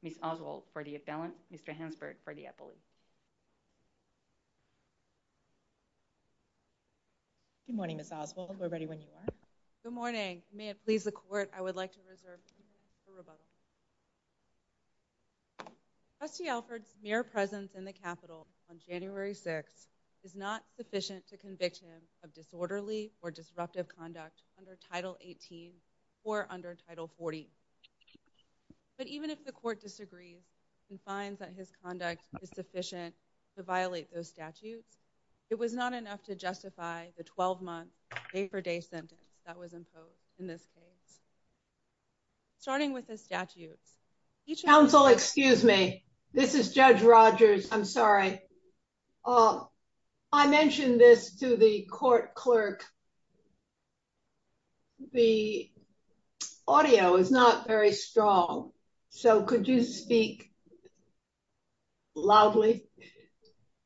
Ms. Oswald for the appellant, Mr. Hansberg for the appellate. Good morning, Ms. Oswald. We're ready when you are. Good morning. May it please the Court, I would like to reserve a moment for rebuttal. Trustee Alford's mere presence in the Capitol on January 6th is not sufficient to convict him of disorderly or disruptive conduct under Title 18 or under Title 40. But even if the Court disagrees and finds that his conduct is sufficient to violate those statutes, it was not enough to justify the 12-month, day-for-day sentence that was imposed in this case. Starting with the statutes. Counsel, excuse me. This is Judge Rogers. I'm sorry. I mentioned this to the court clerk. The audio is not very strong. So could you speak loudly?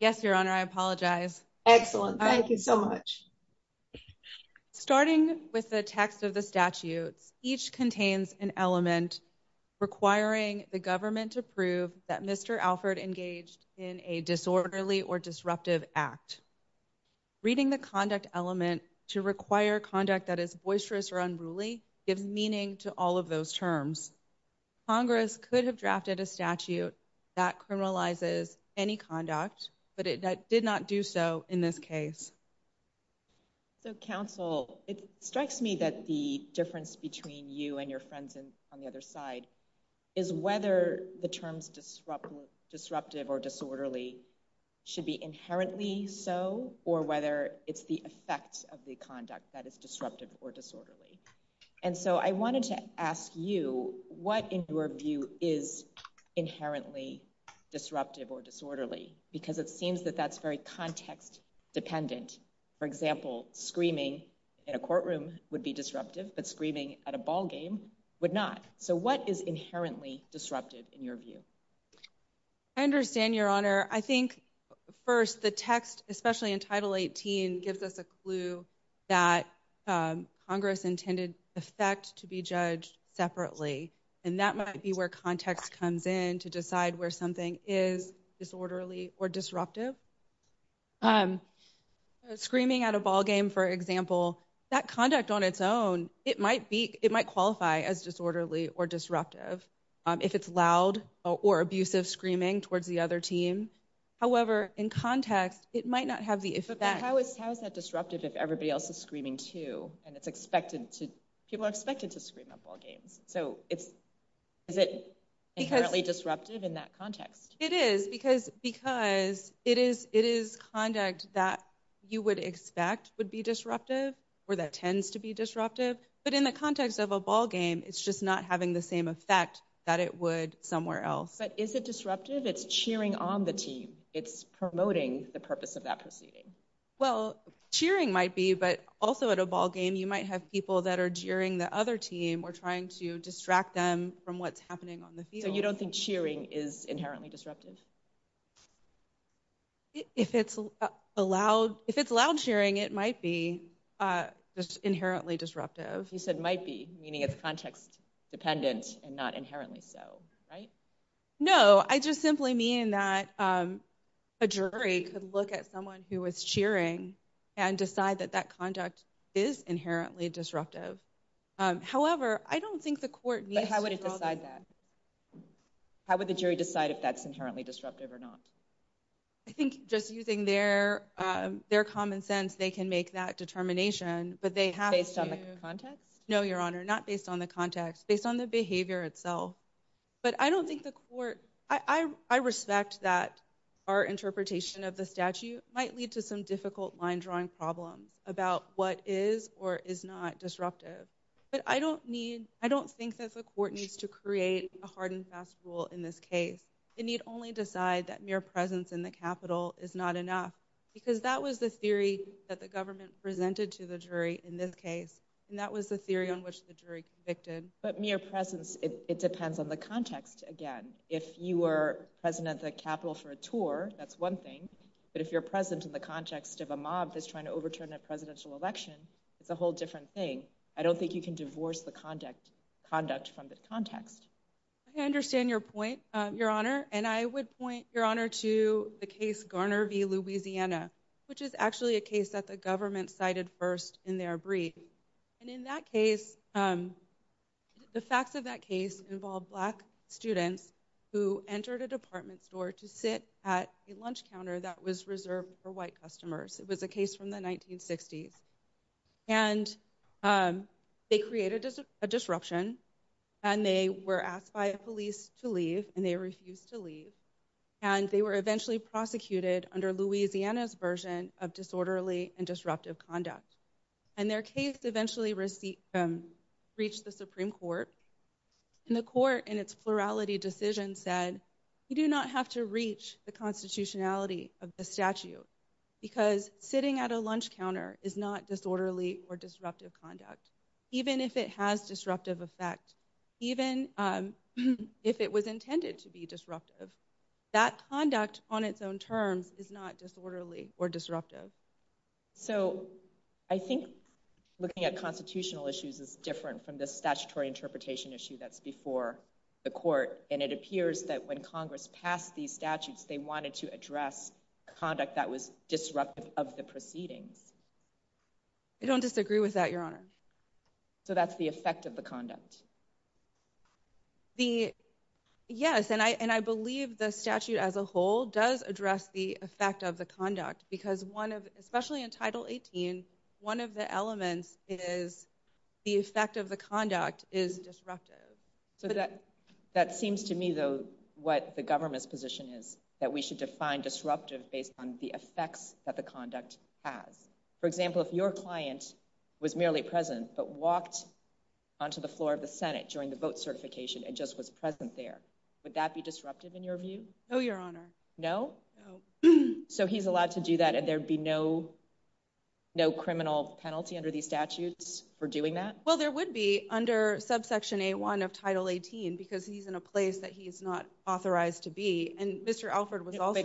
Yes, Your Honor, I apologize. Excellent. Thank you so much. Starting with the text of the statutes, each contains an element requiring the government to prove that Mr. Alford engaged in a disorderly or disruptive act. Reading the conduct element to require conduct that is boisterous or unruly gives meaning to all of those terms. Congress could have drafted a statute that criminalizes any conduct, but it did not do so in this case. Counsel, it strikes me that the difference between you and your friends on the other side is whether the terms disruptive or disorderly should be inherently so, or whether it's the effects of the conduct that is disruptive or disorderly. And so I wanted to ask you, what in your view is inherently disruptive or disorderly? Because it seems that that's very context-dependent. For example, screaming in a courtroom would be disruptive, but screaming at a ballgame would not. So what is inherently disruptive in your view? I understand, Your Honor. I think, first, the text, especially in Title 18, gives us a clue that Congress intended the effect to be judged separately. And that might be where context comes in to decide where something is disorderly or disruptive. Screaming at a ballgame, for example, that conduct on its own, it might qualify as disorderly or disruptive if it's loud or abusive screaming towards the other team. However, in context, it might not have the effect. But how is that disruptive if everybody else is screaming, too, and people are expected to scream at ballgames? So is it inherently disruptive in that context? It is, because it is conduct that you would expect would be disruptive or that tends to be disruptive. But in the context of a ballgame, it's just not having the same effect that it would somewhere else. But is it disruptive? It's cheering on the team. It's promoting the purpose of that proceeding. Well, cheering might be, but also at a ballgame, you might have people that are jeering the other team or trying to distract them from what's happening on the field. So you don't think cheering is inherently disruptive? If it's loud cheering, it might be inherently disruptive. You said might be, meaning it's context dependent and not inherently so, right? No, I just simply mean that a jury could look at someone who was cheering and decide that that conduct is inherently disruptive. However, I don't think the court needs to draw the line. But how would it decide that? How would the jury decide if that's inherently disruptive or not? I think just using their common sense, they can make that determination. Based on the context? No, Your Honor, not based on the context, based on the behavior itself. But I don't think the court, I respect that our interpretation of the statute might lead to some difficult line drawing problems about what is or is not disruptive. But I don't think that the court needs to create a hard and fast rule in this case. It need only decide that mere presence in the capital is not enough. Because that was the theory that the government presented to the jury in this case. And that was the theory on which the jury convicted. But mere presence, it depends on the context, again. If you were president of the capital for a tour, that's one thing. But if you're president in the context of a mob that's trying to overturn a presidential election, it's a whole different thing. I don't think you can divorce the conduct from the context. I understand your point, Your Honor. And I would point, Your Honor, to the case Garner v. Louisiana, which is actually a case that the government cited first in their brief. And in that case, the facts of that case involved black students who entered a department store to sit at a lunch counter that was reserved for white customers. It was a case from the 1960s. And they created a disruption. And they were asked by police to leave. And they refused to leave. And they were eventually prosecuted under Louisiana's version of disorderly and disruptive conduct. And their case eventually reached the Supreme Court. And the court, in its plurality decision, said, you do not have to reach the constitutionality of the statute because sitting at a lunch counter is not disorderly or disruptive conduct. Even if it has disruptive effect, even if it was intended to be disruptive, that conduct on its own terms is not disorderly or disruptive. So I think looking at constitutional issues is different from the statutory interpretation issue that's before the court. And it appears that when Congress passed these statutes, they wanted to address conduct that was disruptive of the proceedings. I don't disagree with that, Your Honor. So that's the effect of the conduct. Yes, and I believe the statute as a whole does address the effect of the conduct. Because especially in Title 18, one of the elements is the effect of the conduct is disruptive. So that seems to me, though, what the government's position is, that we should define disruptive based on the effects that the conduct has. For example, if your client was merely present but walked onto the floor of the Senate during the vote certification and just was present there, would that be disruptive in your view? No, Your Honor. No? No. So he's allowed to do that and there'd be no criminal penalty under these statutes for doing that? Well, there would be under subsection A1 of Title 18 because he's in a place that he's not authorized to be. And Mr. Alford was also—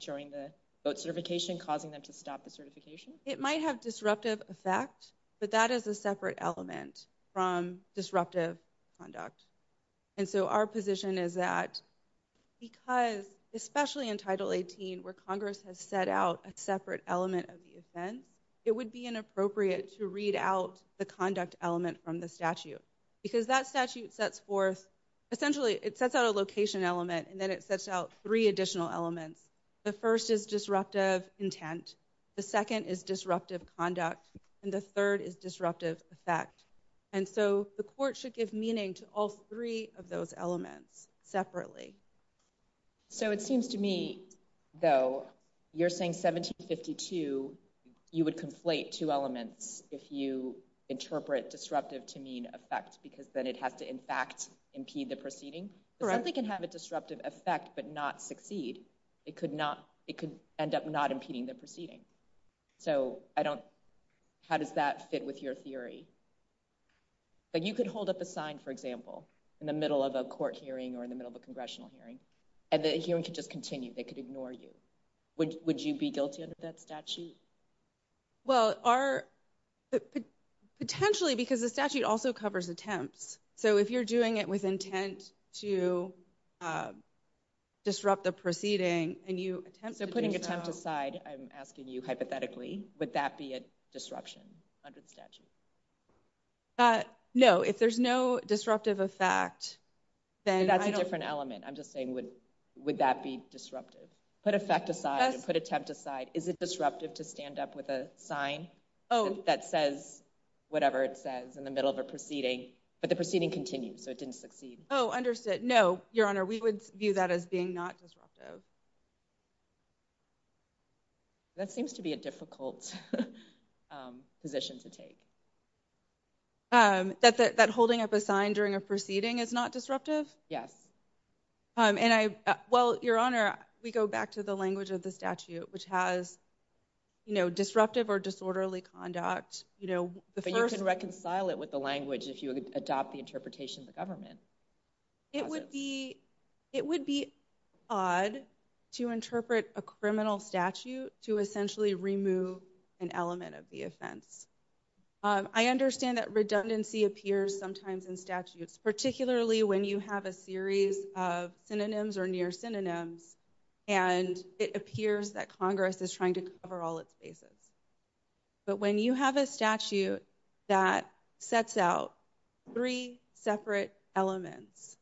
During the vote certification, causing them to stop the certification? It might have disruptive effect, but that is a separate element from disruptive conduct. And so our position is that because especially in Title 18 where Congress has set out a separate element of the offense, it would be inappropriate to read out the conduct element from the statute. Because that statute sets forth—essentially, it sets out a location element and then it sets out three additional elements. The first is disruptive intent, the second is disruptive conduct, and the third is disruptive effect. And so the court should give meaning to all three of those elements separately. So it seems to me, though, you're saying 1752, you would conflate two elements if you interpret disruptive to mean effect because then it has to in fact impede the proceeding? Correct. Something can have a disruptive effect but not succeed. It could end up not impeding the proceeding. So I don't—how does that fit with your theory? But you could hold up a sign, for example, in the middle of a court hearing or in the middle of a congressional hearing, and the hearing could just continue. They could ignore you. Would you be guilty under that statute? Well, our—potentially because the statute also covers attempts. So if you're doing it with intent to disrupt the proceeding and you attempt to do so— No, if there's no disruptive effect, then I don't— That's a different element. I'm just saying would that be disruptive? Put effect aside and put attempt aside. Is it disruptive to stand up with a sign that says whatever it says in the middle of a proceeding, but the proceeding continues, so it didn't succeed? Oh, understood. That seems to be a difficult position to take. That holding up a sign during a proceeding is not disruptive? Yes. And I—well, Your Honor, we go back to the language of the statute, which has disruptive or disorderly conduct. But you can reconcile it with the language if you adopt the interpretation of the government. It would be odd to interpret a criminal statute to essentially remove an element of the offense. I understand that redundancy appears sometimes in statutes, particularly when you have a series of synonyms or near synonyms, and it appears that Congress is trying to cover all its bases. But when you have a statute that sets out three separate elements,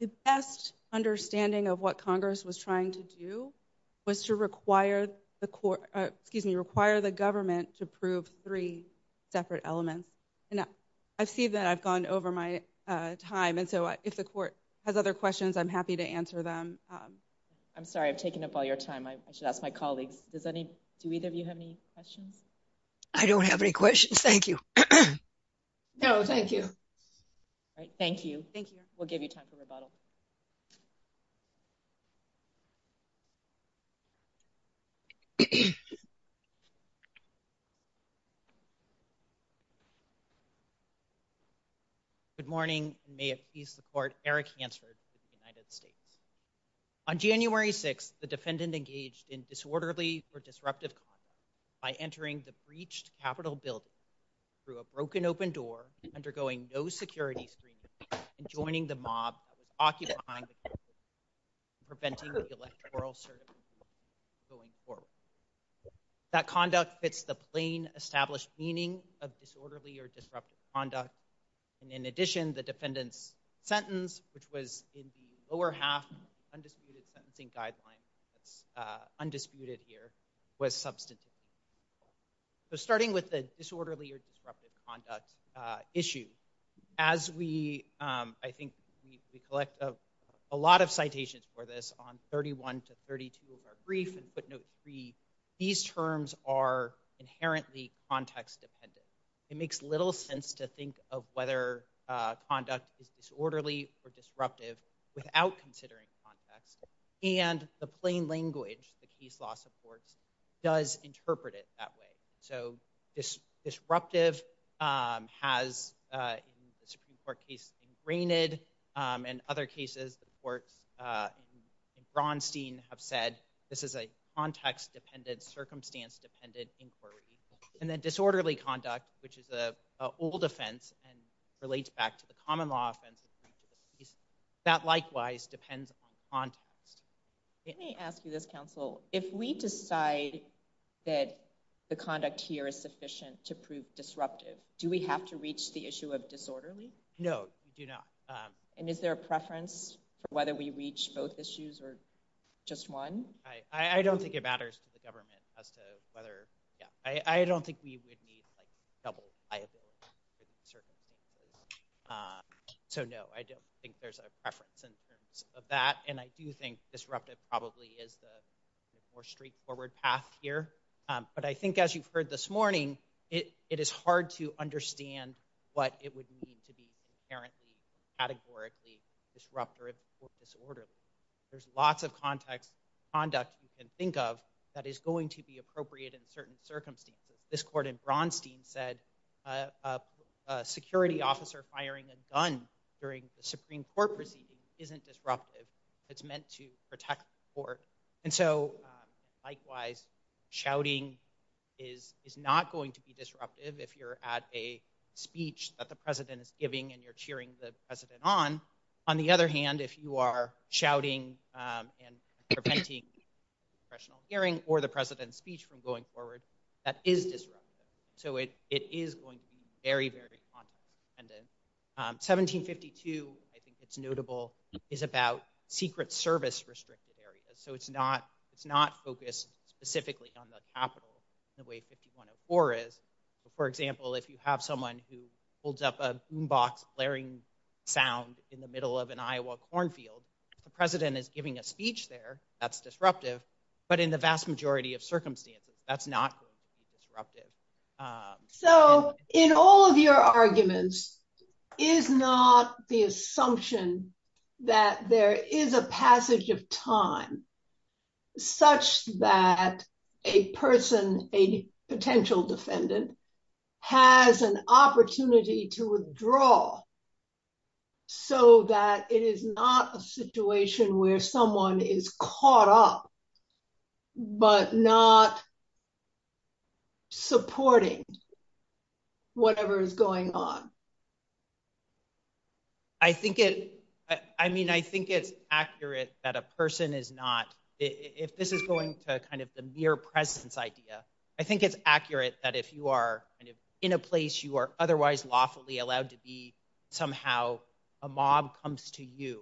the best understanding of what Congress was trying to do was to require the court— excuse me, require the government to prove three separate elements. And I see that I've gone over my time, and so if the court has other questions, I'm happy to answer them. I'm sorry. I've taken up all your time. I should ask my colleagues. Does any—do either of you have any questions? I don't have any questions. Thank you. No, thank you. All right. Thank you. Thank you. We'll give you time for rebuttal. Good morning. May it please the court, Eric Hansford of the United States. On January 6th, the defendant engaged in disorderly or disruptive conduct by entering the breached Capitol Building through a broken open door, undergoing no security screening, and joining the mob that was occupying the building and preventing the electoral circuit from going forward. That conduct fits the plain established meaning of disorderly or disruptive conduct, and in addition, the defendant's sentence, which was in the lower half of the undisputed sentencing guideline, that's undisputed here, was substantive. So starting with the disorderly or disruptive conduct issue, as we—I think we collect a lot of citations for this on 31 to 32 of our brief and footnote three, these terms are inherently context-dependent. It makes little sense to think of whether conduct is disorderly or disruptive without considering context, and the plain language the case law supports does interpret it that way. So disruptive has, in the Supreme Court case, ingrained, and other cases the courts in Braunstein have said, this is a context-dependent, circumstance-dependent inquiry. And then disorderly conduct, which is an old offense and relates back to the common law offense, that likewise depends on context. Let me ask you this, counsel. If we decide that the conduct here is sufficient to prove disruptive, do we have to reach the issue of disorderly? No, we do not. And is there a preference for whether we reach both issues or just one? I don't think it matters to the government as to whether—yeah. I don't think we would need, like, double liability for these circumstances. So no, I don't think there's a preference in terms of that. And I do think disruptive probably is the more straightforward path here. But I think, as you've heard this morning, it is hard to understand what it would mean to be inherently and categorically disruptive or disorderly. There's lots of context—conduct you can think of that is going to be appropriate in certain circumstances. This court in Braunstein said a security officer firing a gun during a Supreme Court proceeding isn't disruptive. It's meant to protect the court. And so, likewise, shouting is not going to be disruptive if you're at a speech that the president is giving and you're cheering the president on. On the other hand, if you are shouting and preventing congressional hearing or the president's speech from going forward, that is disruptive. So it is going to be very, very contentious. 1752, I think it's notable, is about secret service-restricted areas. So it's not focused specifically on the Capitol the way 5104 is. For example, if you have someone who holds up a boombox blaring sound in the middle of an Iowa cornfield, if the president is giving a speech there, that's disruptive. But in the vast majority of circumstances, that's not going to be disruptive. So in all of your arguments, is not the assumption that there is a passage of time such that a person, a potential defendant, has an opportunity to withdraw so that it is not a situation where someone is caught up but not supporting whatever is going on? I think it's accurate that a person is not... If this is going to the mere presence idea, I think it's accurate that if you are in a place in which you are otherwise lawfully allowed to be, somehow a mob comes to you.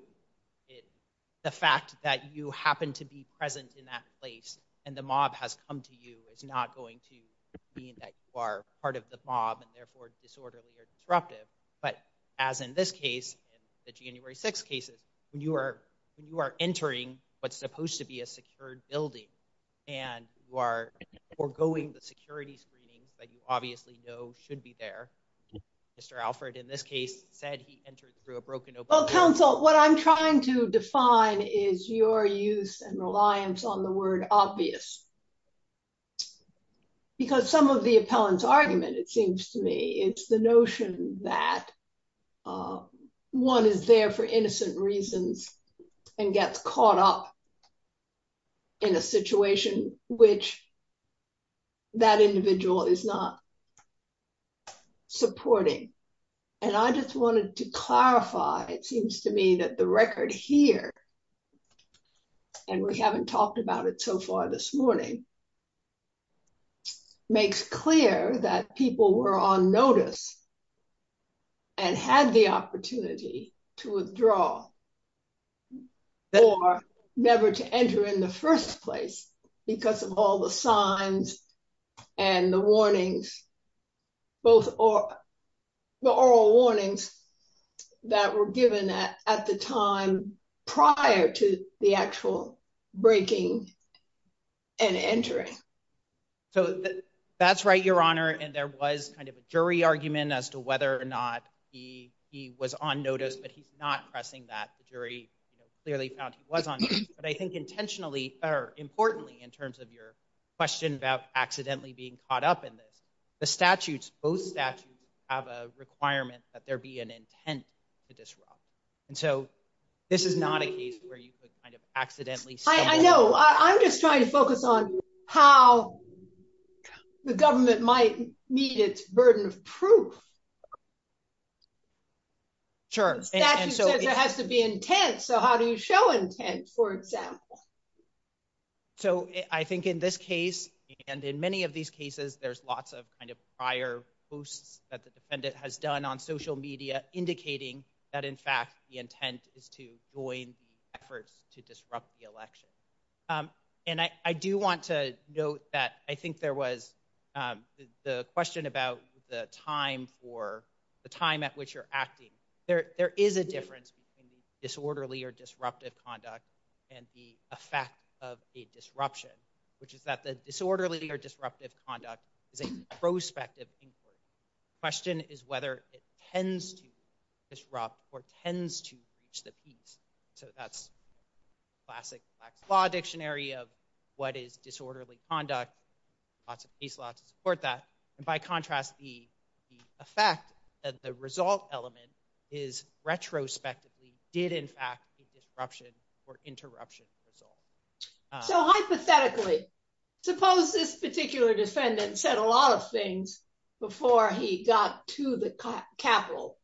The fact that you happen to be present in that place and the mob has come to you is not going to mean that you are part of the mob and therefore disorderly or disruptive. But as in this case, the January 6th cases, when you are entering what's supposed to be a secured building and you are forgoing the security screenings that you obviously know should be there. Mr. Alfred, in this case, said he entered through a broken... Well, counsel, what I'm trying to define is your use and reliance on the word obvious. Because some of the appellant's argument, it seems to me, it's the notion that one is there for innocent reasons and gets caught up in a situation which that individual is not supporting. And I just wanted to clarify, it seems to me that the record here, and we haven't talked about it so far this morning, makes clear that people were on notice and had the opportunity to withdraw or never to enter in the first place because of all the signs and the warnings, both the oral warnings that were given at the time prior to the actual breaking and entering. So that's right, Your Honor. And there was kind of a jury argument as to whether or not he was on notice, but he's not pressing that. The jury clearly found he was on notice. But I think intentionally, or importantly, in terms of your question about accidentally being caught up in this, the statutes, both statutes, have a requirement that there be an intent to disrupt. And so this is not a case where you could kind of accidentally... I know. I'm just trying to focus on how the government might meet its burden of proof. Sure. Statute says there has to be intent. So how do you show intent, for example? So I think in this case, and in many of these cases, there's lots of kind of prior posts that the defendant has done on social media, indicating that, in fact, the intent is to join efforts to disrupt the election. And I do want to note that I think there was the question about the time at which you're acting. There is a difference between disorderly or disruptive conduct and the effect of a disruption, which is that the disorderly or disruptive conduct is a prospective inquiry. The question is whether it tends to disrupt or tends to breach the peace. So that's classic black law dictionary of what is disorderly conduct. Lots of peace law to support that. And by contrast, the effect of the result element is retrospectively did, in fact, disruption or interruption resolve. So hypothetically, suppose this particular defendant said a lot of things before he got to the Capitol,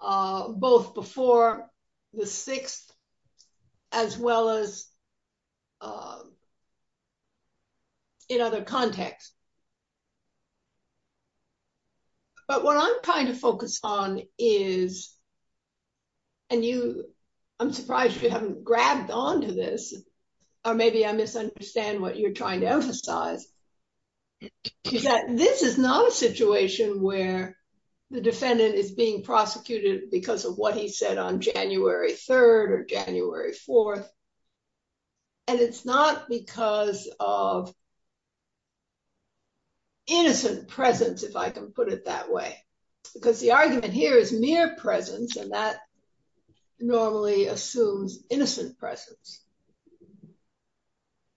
both before the 6th, as well as in other contexts. But what I'm trying to focus on is. And you I'm surprised you haven't grabbed on to this, or maybe I misunderstand what you're trying to emphasize. This is not a situation where the defendant is being prosecuted because of what he said on January 3rd or January 4th. And it's not because of. Innocent presence, if I can put it that way, because the argument here is mere presence and that normally assumes innocent presence.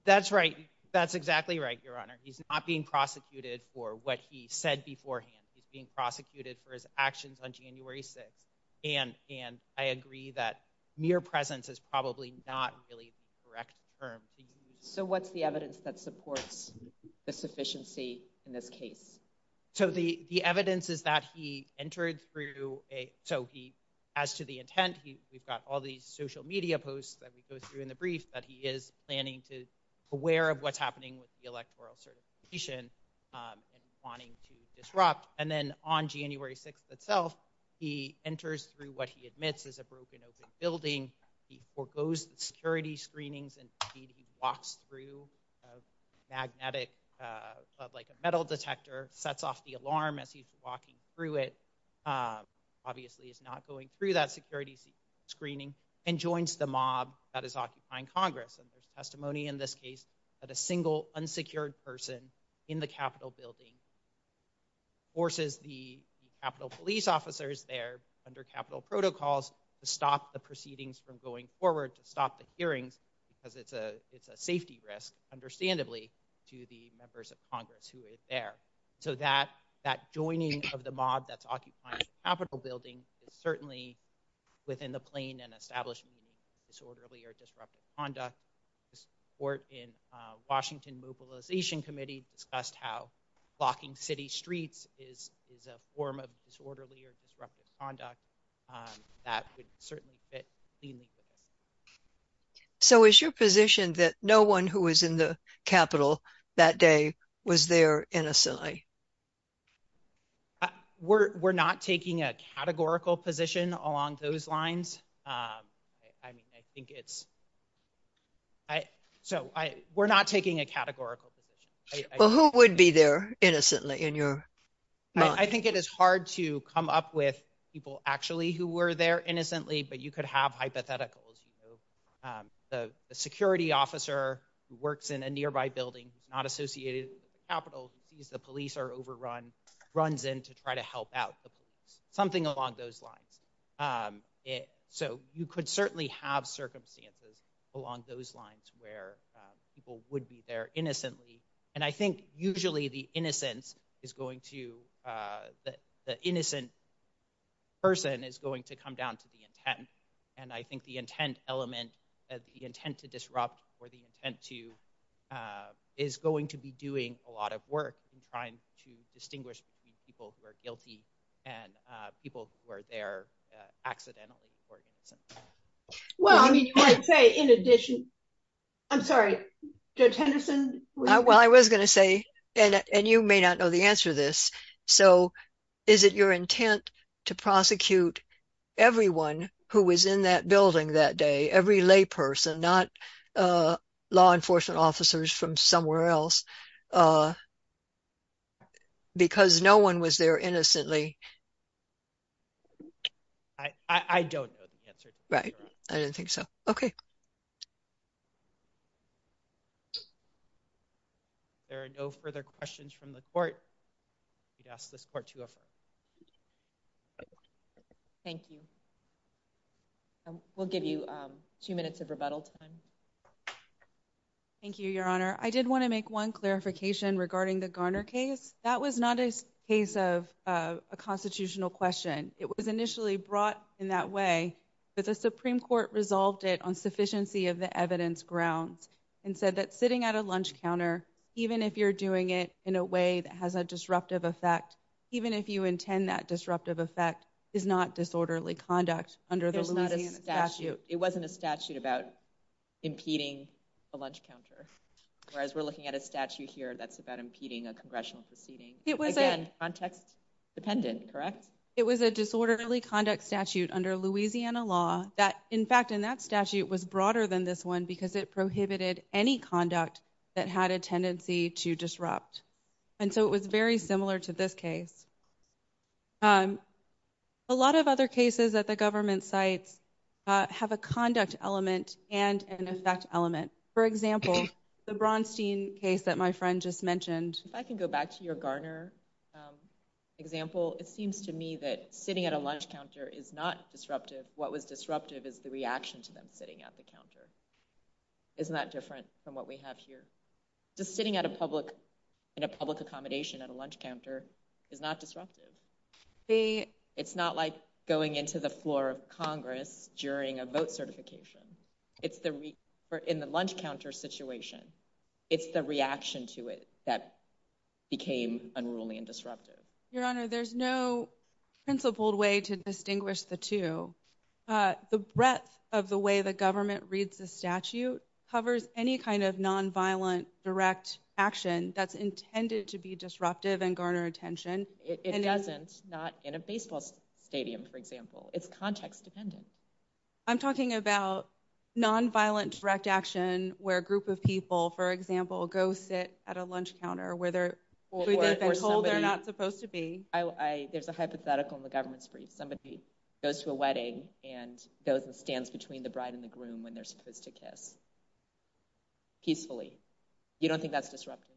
That's right. That's exactly right, Your Honor. He's not being prosecuted for what he said beforehand. He's being prosecuted for his actions on January 6th. And and I agree that mere presence is probably not really the correct term. So what's the evidence that supports the sufficiency in this case? So the evidence is that he entered through a. So he as to the intent, we've got all these social media posts that we go through in the brief that he is planning to be aware of what's happening with the electoral certification. Wanting to disrupt. And then on January 6th itself, he enters through what he admits is a broken open building. He foregoes security screenings and walks through a magnetic metal detector, sets off the alarm as he's walking through it. Obviously, he's not going through that security screening and joins the mob that is occupying Congress. And there's testimony in this case that a single unsecured person in the Capitol building forces the Capitol police officers there under Capitol protocols to stop the proceedings from going forward, to stop the hearings because it's a it's a safety risk, understandably, to the members of Congress who is there. So that that joining of the mob that's occupying the Capitol building is certainly within the plane and establishment of disorderly or disruptive conduct. This report in Washington Mobilization Committee discussed how blocking city streets is is a form of disorderly or disruptive conduct that would certainly fit. So is your position that no one who was in the Capitol that day was there innocently? We're not taking a categorical position along those lines. I mean, I think it's. So we're not taking a categorical position. Well, who would be there innocently in your mind? I think it is hard to come up with people actually who were there innocently. But you could have hypotheticals. The security officer works in a nearby building, not associated with the Capitol. He sees the police are overrun, runs in to try to help out the police, something along those lines. So you could certainly have circumstances along those lines where people would be there innocently. And I think usually the innocence is going to the innocent person is going to come down to the intent. And I think the intent element, the intent to disrupt or the intent to is going to be doing a lot of work in trying to distinguish people who are guilty and people who are there accidentally. Well, I mean, you might say, in addition, I'm sorry, Judge Henderson. Well, I was going to say, and you may not know the answer to this. So is it your intent to prosecute everyone who was in that building that day? Every layperson, not law enforcement officers from somewhere else? Because no one was there innocently. I don't know the answer. Right. I didn't think so. OK. There are no further questions from the court. We ask this court to affirm. Thank you. We'll give you two minutes of rebuttal time. Thank you, Your Honor. I did want to make one clarification regarding the Garner case. That was not a case of a constitutional question. It was initially brought in that way, but the Supreme Court resolved it on sufficiency of the evidence grounds and said that sitting at a lunch counter, even if you're doing it in a way that has a disruptive effect, even if you intend that disruptive effect, is not disorderly conduct under the Louisiana statute. It wasn't a statute about impeding a lunch counter. Whereas we're looking at a statute here that's about impeding a congressional proceeding. Again, context dependent, correct? It was a disorderly conduct statute under Louisiana law that, in fact, in that statute was broader than this one because it prohibited any conduct that had a tendency to disrupt. And so it was very similar to this case. A lot of other cases at the government sites have a conduct element and an effect element. For example, the Braunstein case that my friend just mentioned. If I can go back to your Garner example, it seems to me that sitting at a lunch counter is not disruptive. What was disruptive is the reaction to them sitting at the counter. Isn't that different from what we have here? Just sitting in a public accommodation at a lunch counter is not disruptive. It's not like going into the floor of Congress during a vote certification. In the lunch counter situation, it's the reaction to it that became unruly and disruptive. Your Honor, there's no principled way to distinguish the two. The breadth of the way the government reads the statute covers any kind of nonviolent direct action that's intended to be disruptive and garner attention. It doesn't, not in a baseball stadium, for example. It's context dependent. I'm talking about nonviolent direct action where a group of people, for example, go sit at a lunch counter where they've been told they're not supposed to be. There's a hypothetical in the government's brief. Somebody goes to a wedding and goes and stands between the bride and the groom when they're supposed to kiss, peacefully. You don't think that's disruptive?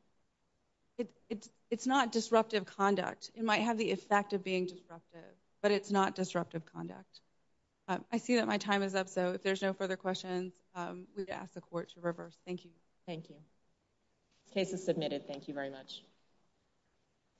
It's not disruptive conduct. It might have the effect of being disruptive, but it's not disruptive conduct. I see that my time is up, so if there's no further questions, we ask the Court to reverse. Thank you. Thank you. Case is submitted. Thank you very much.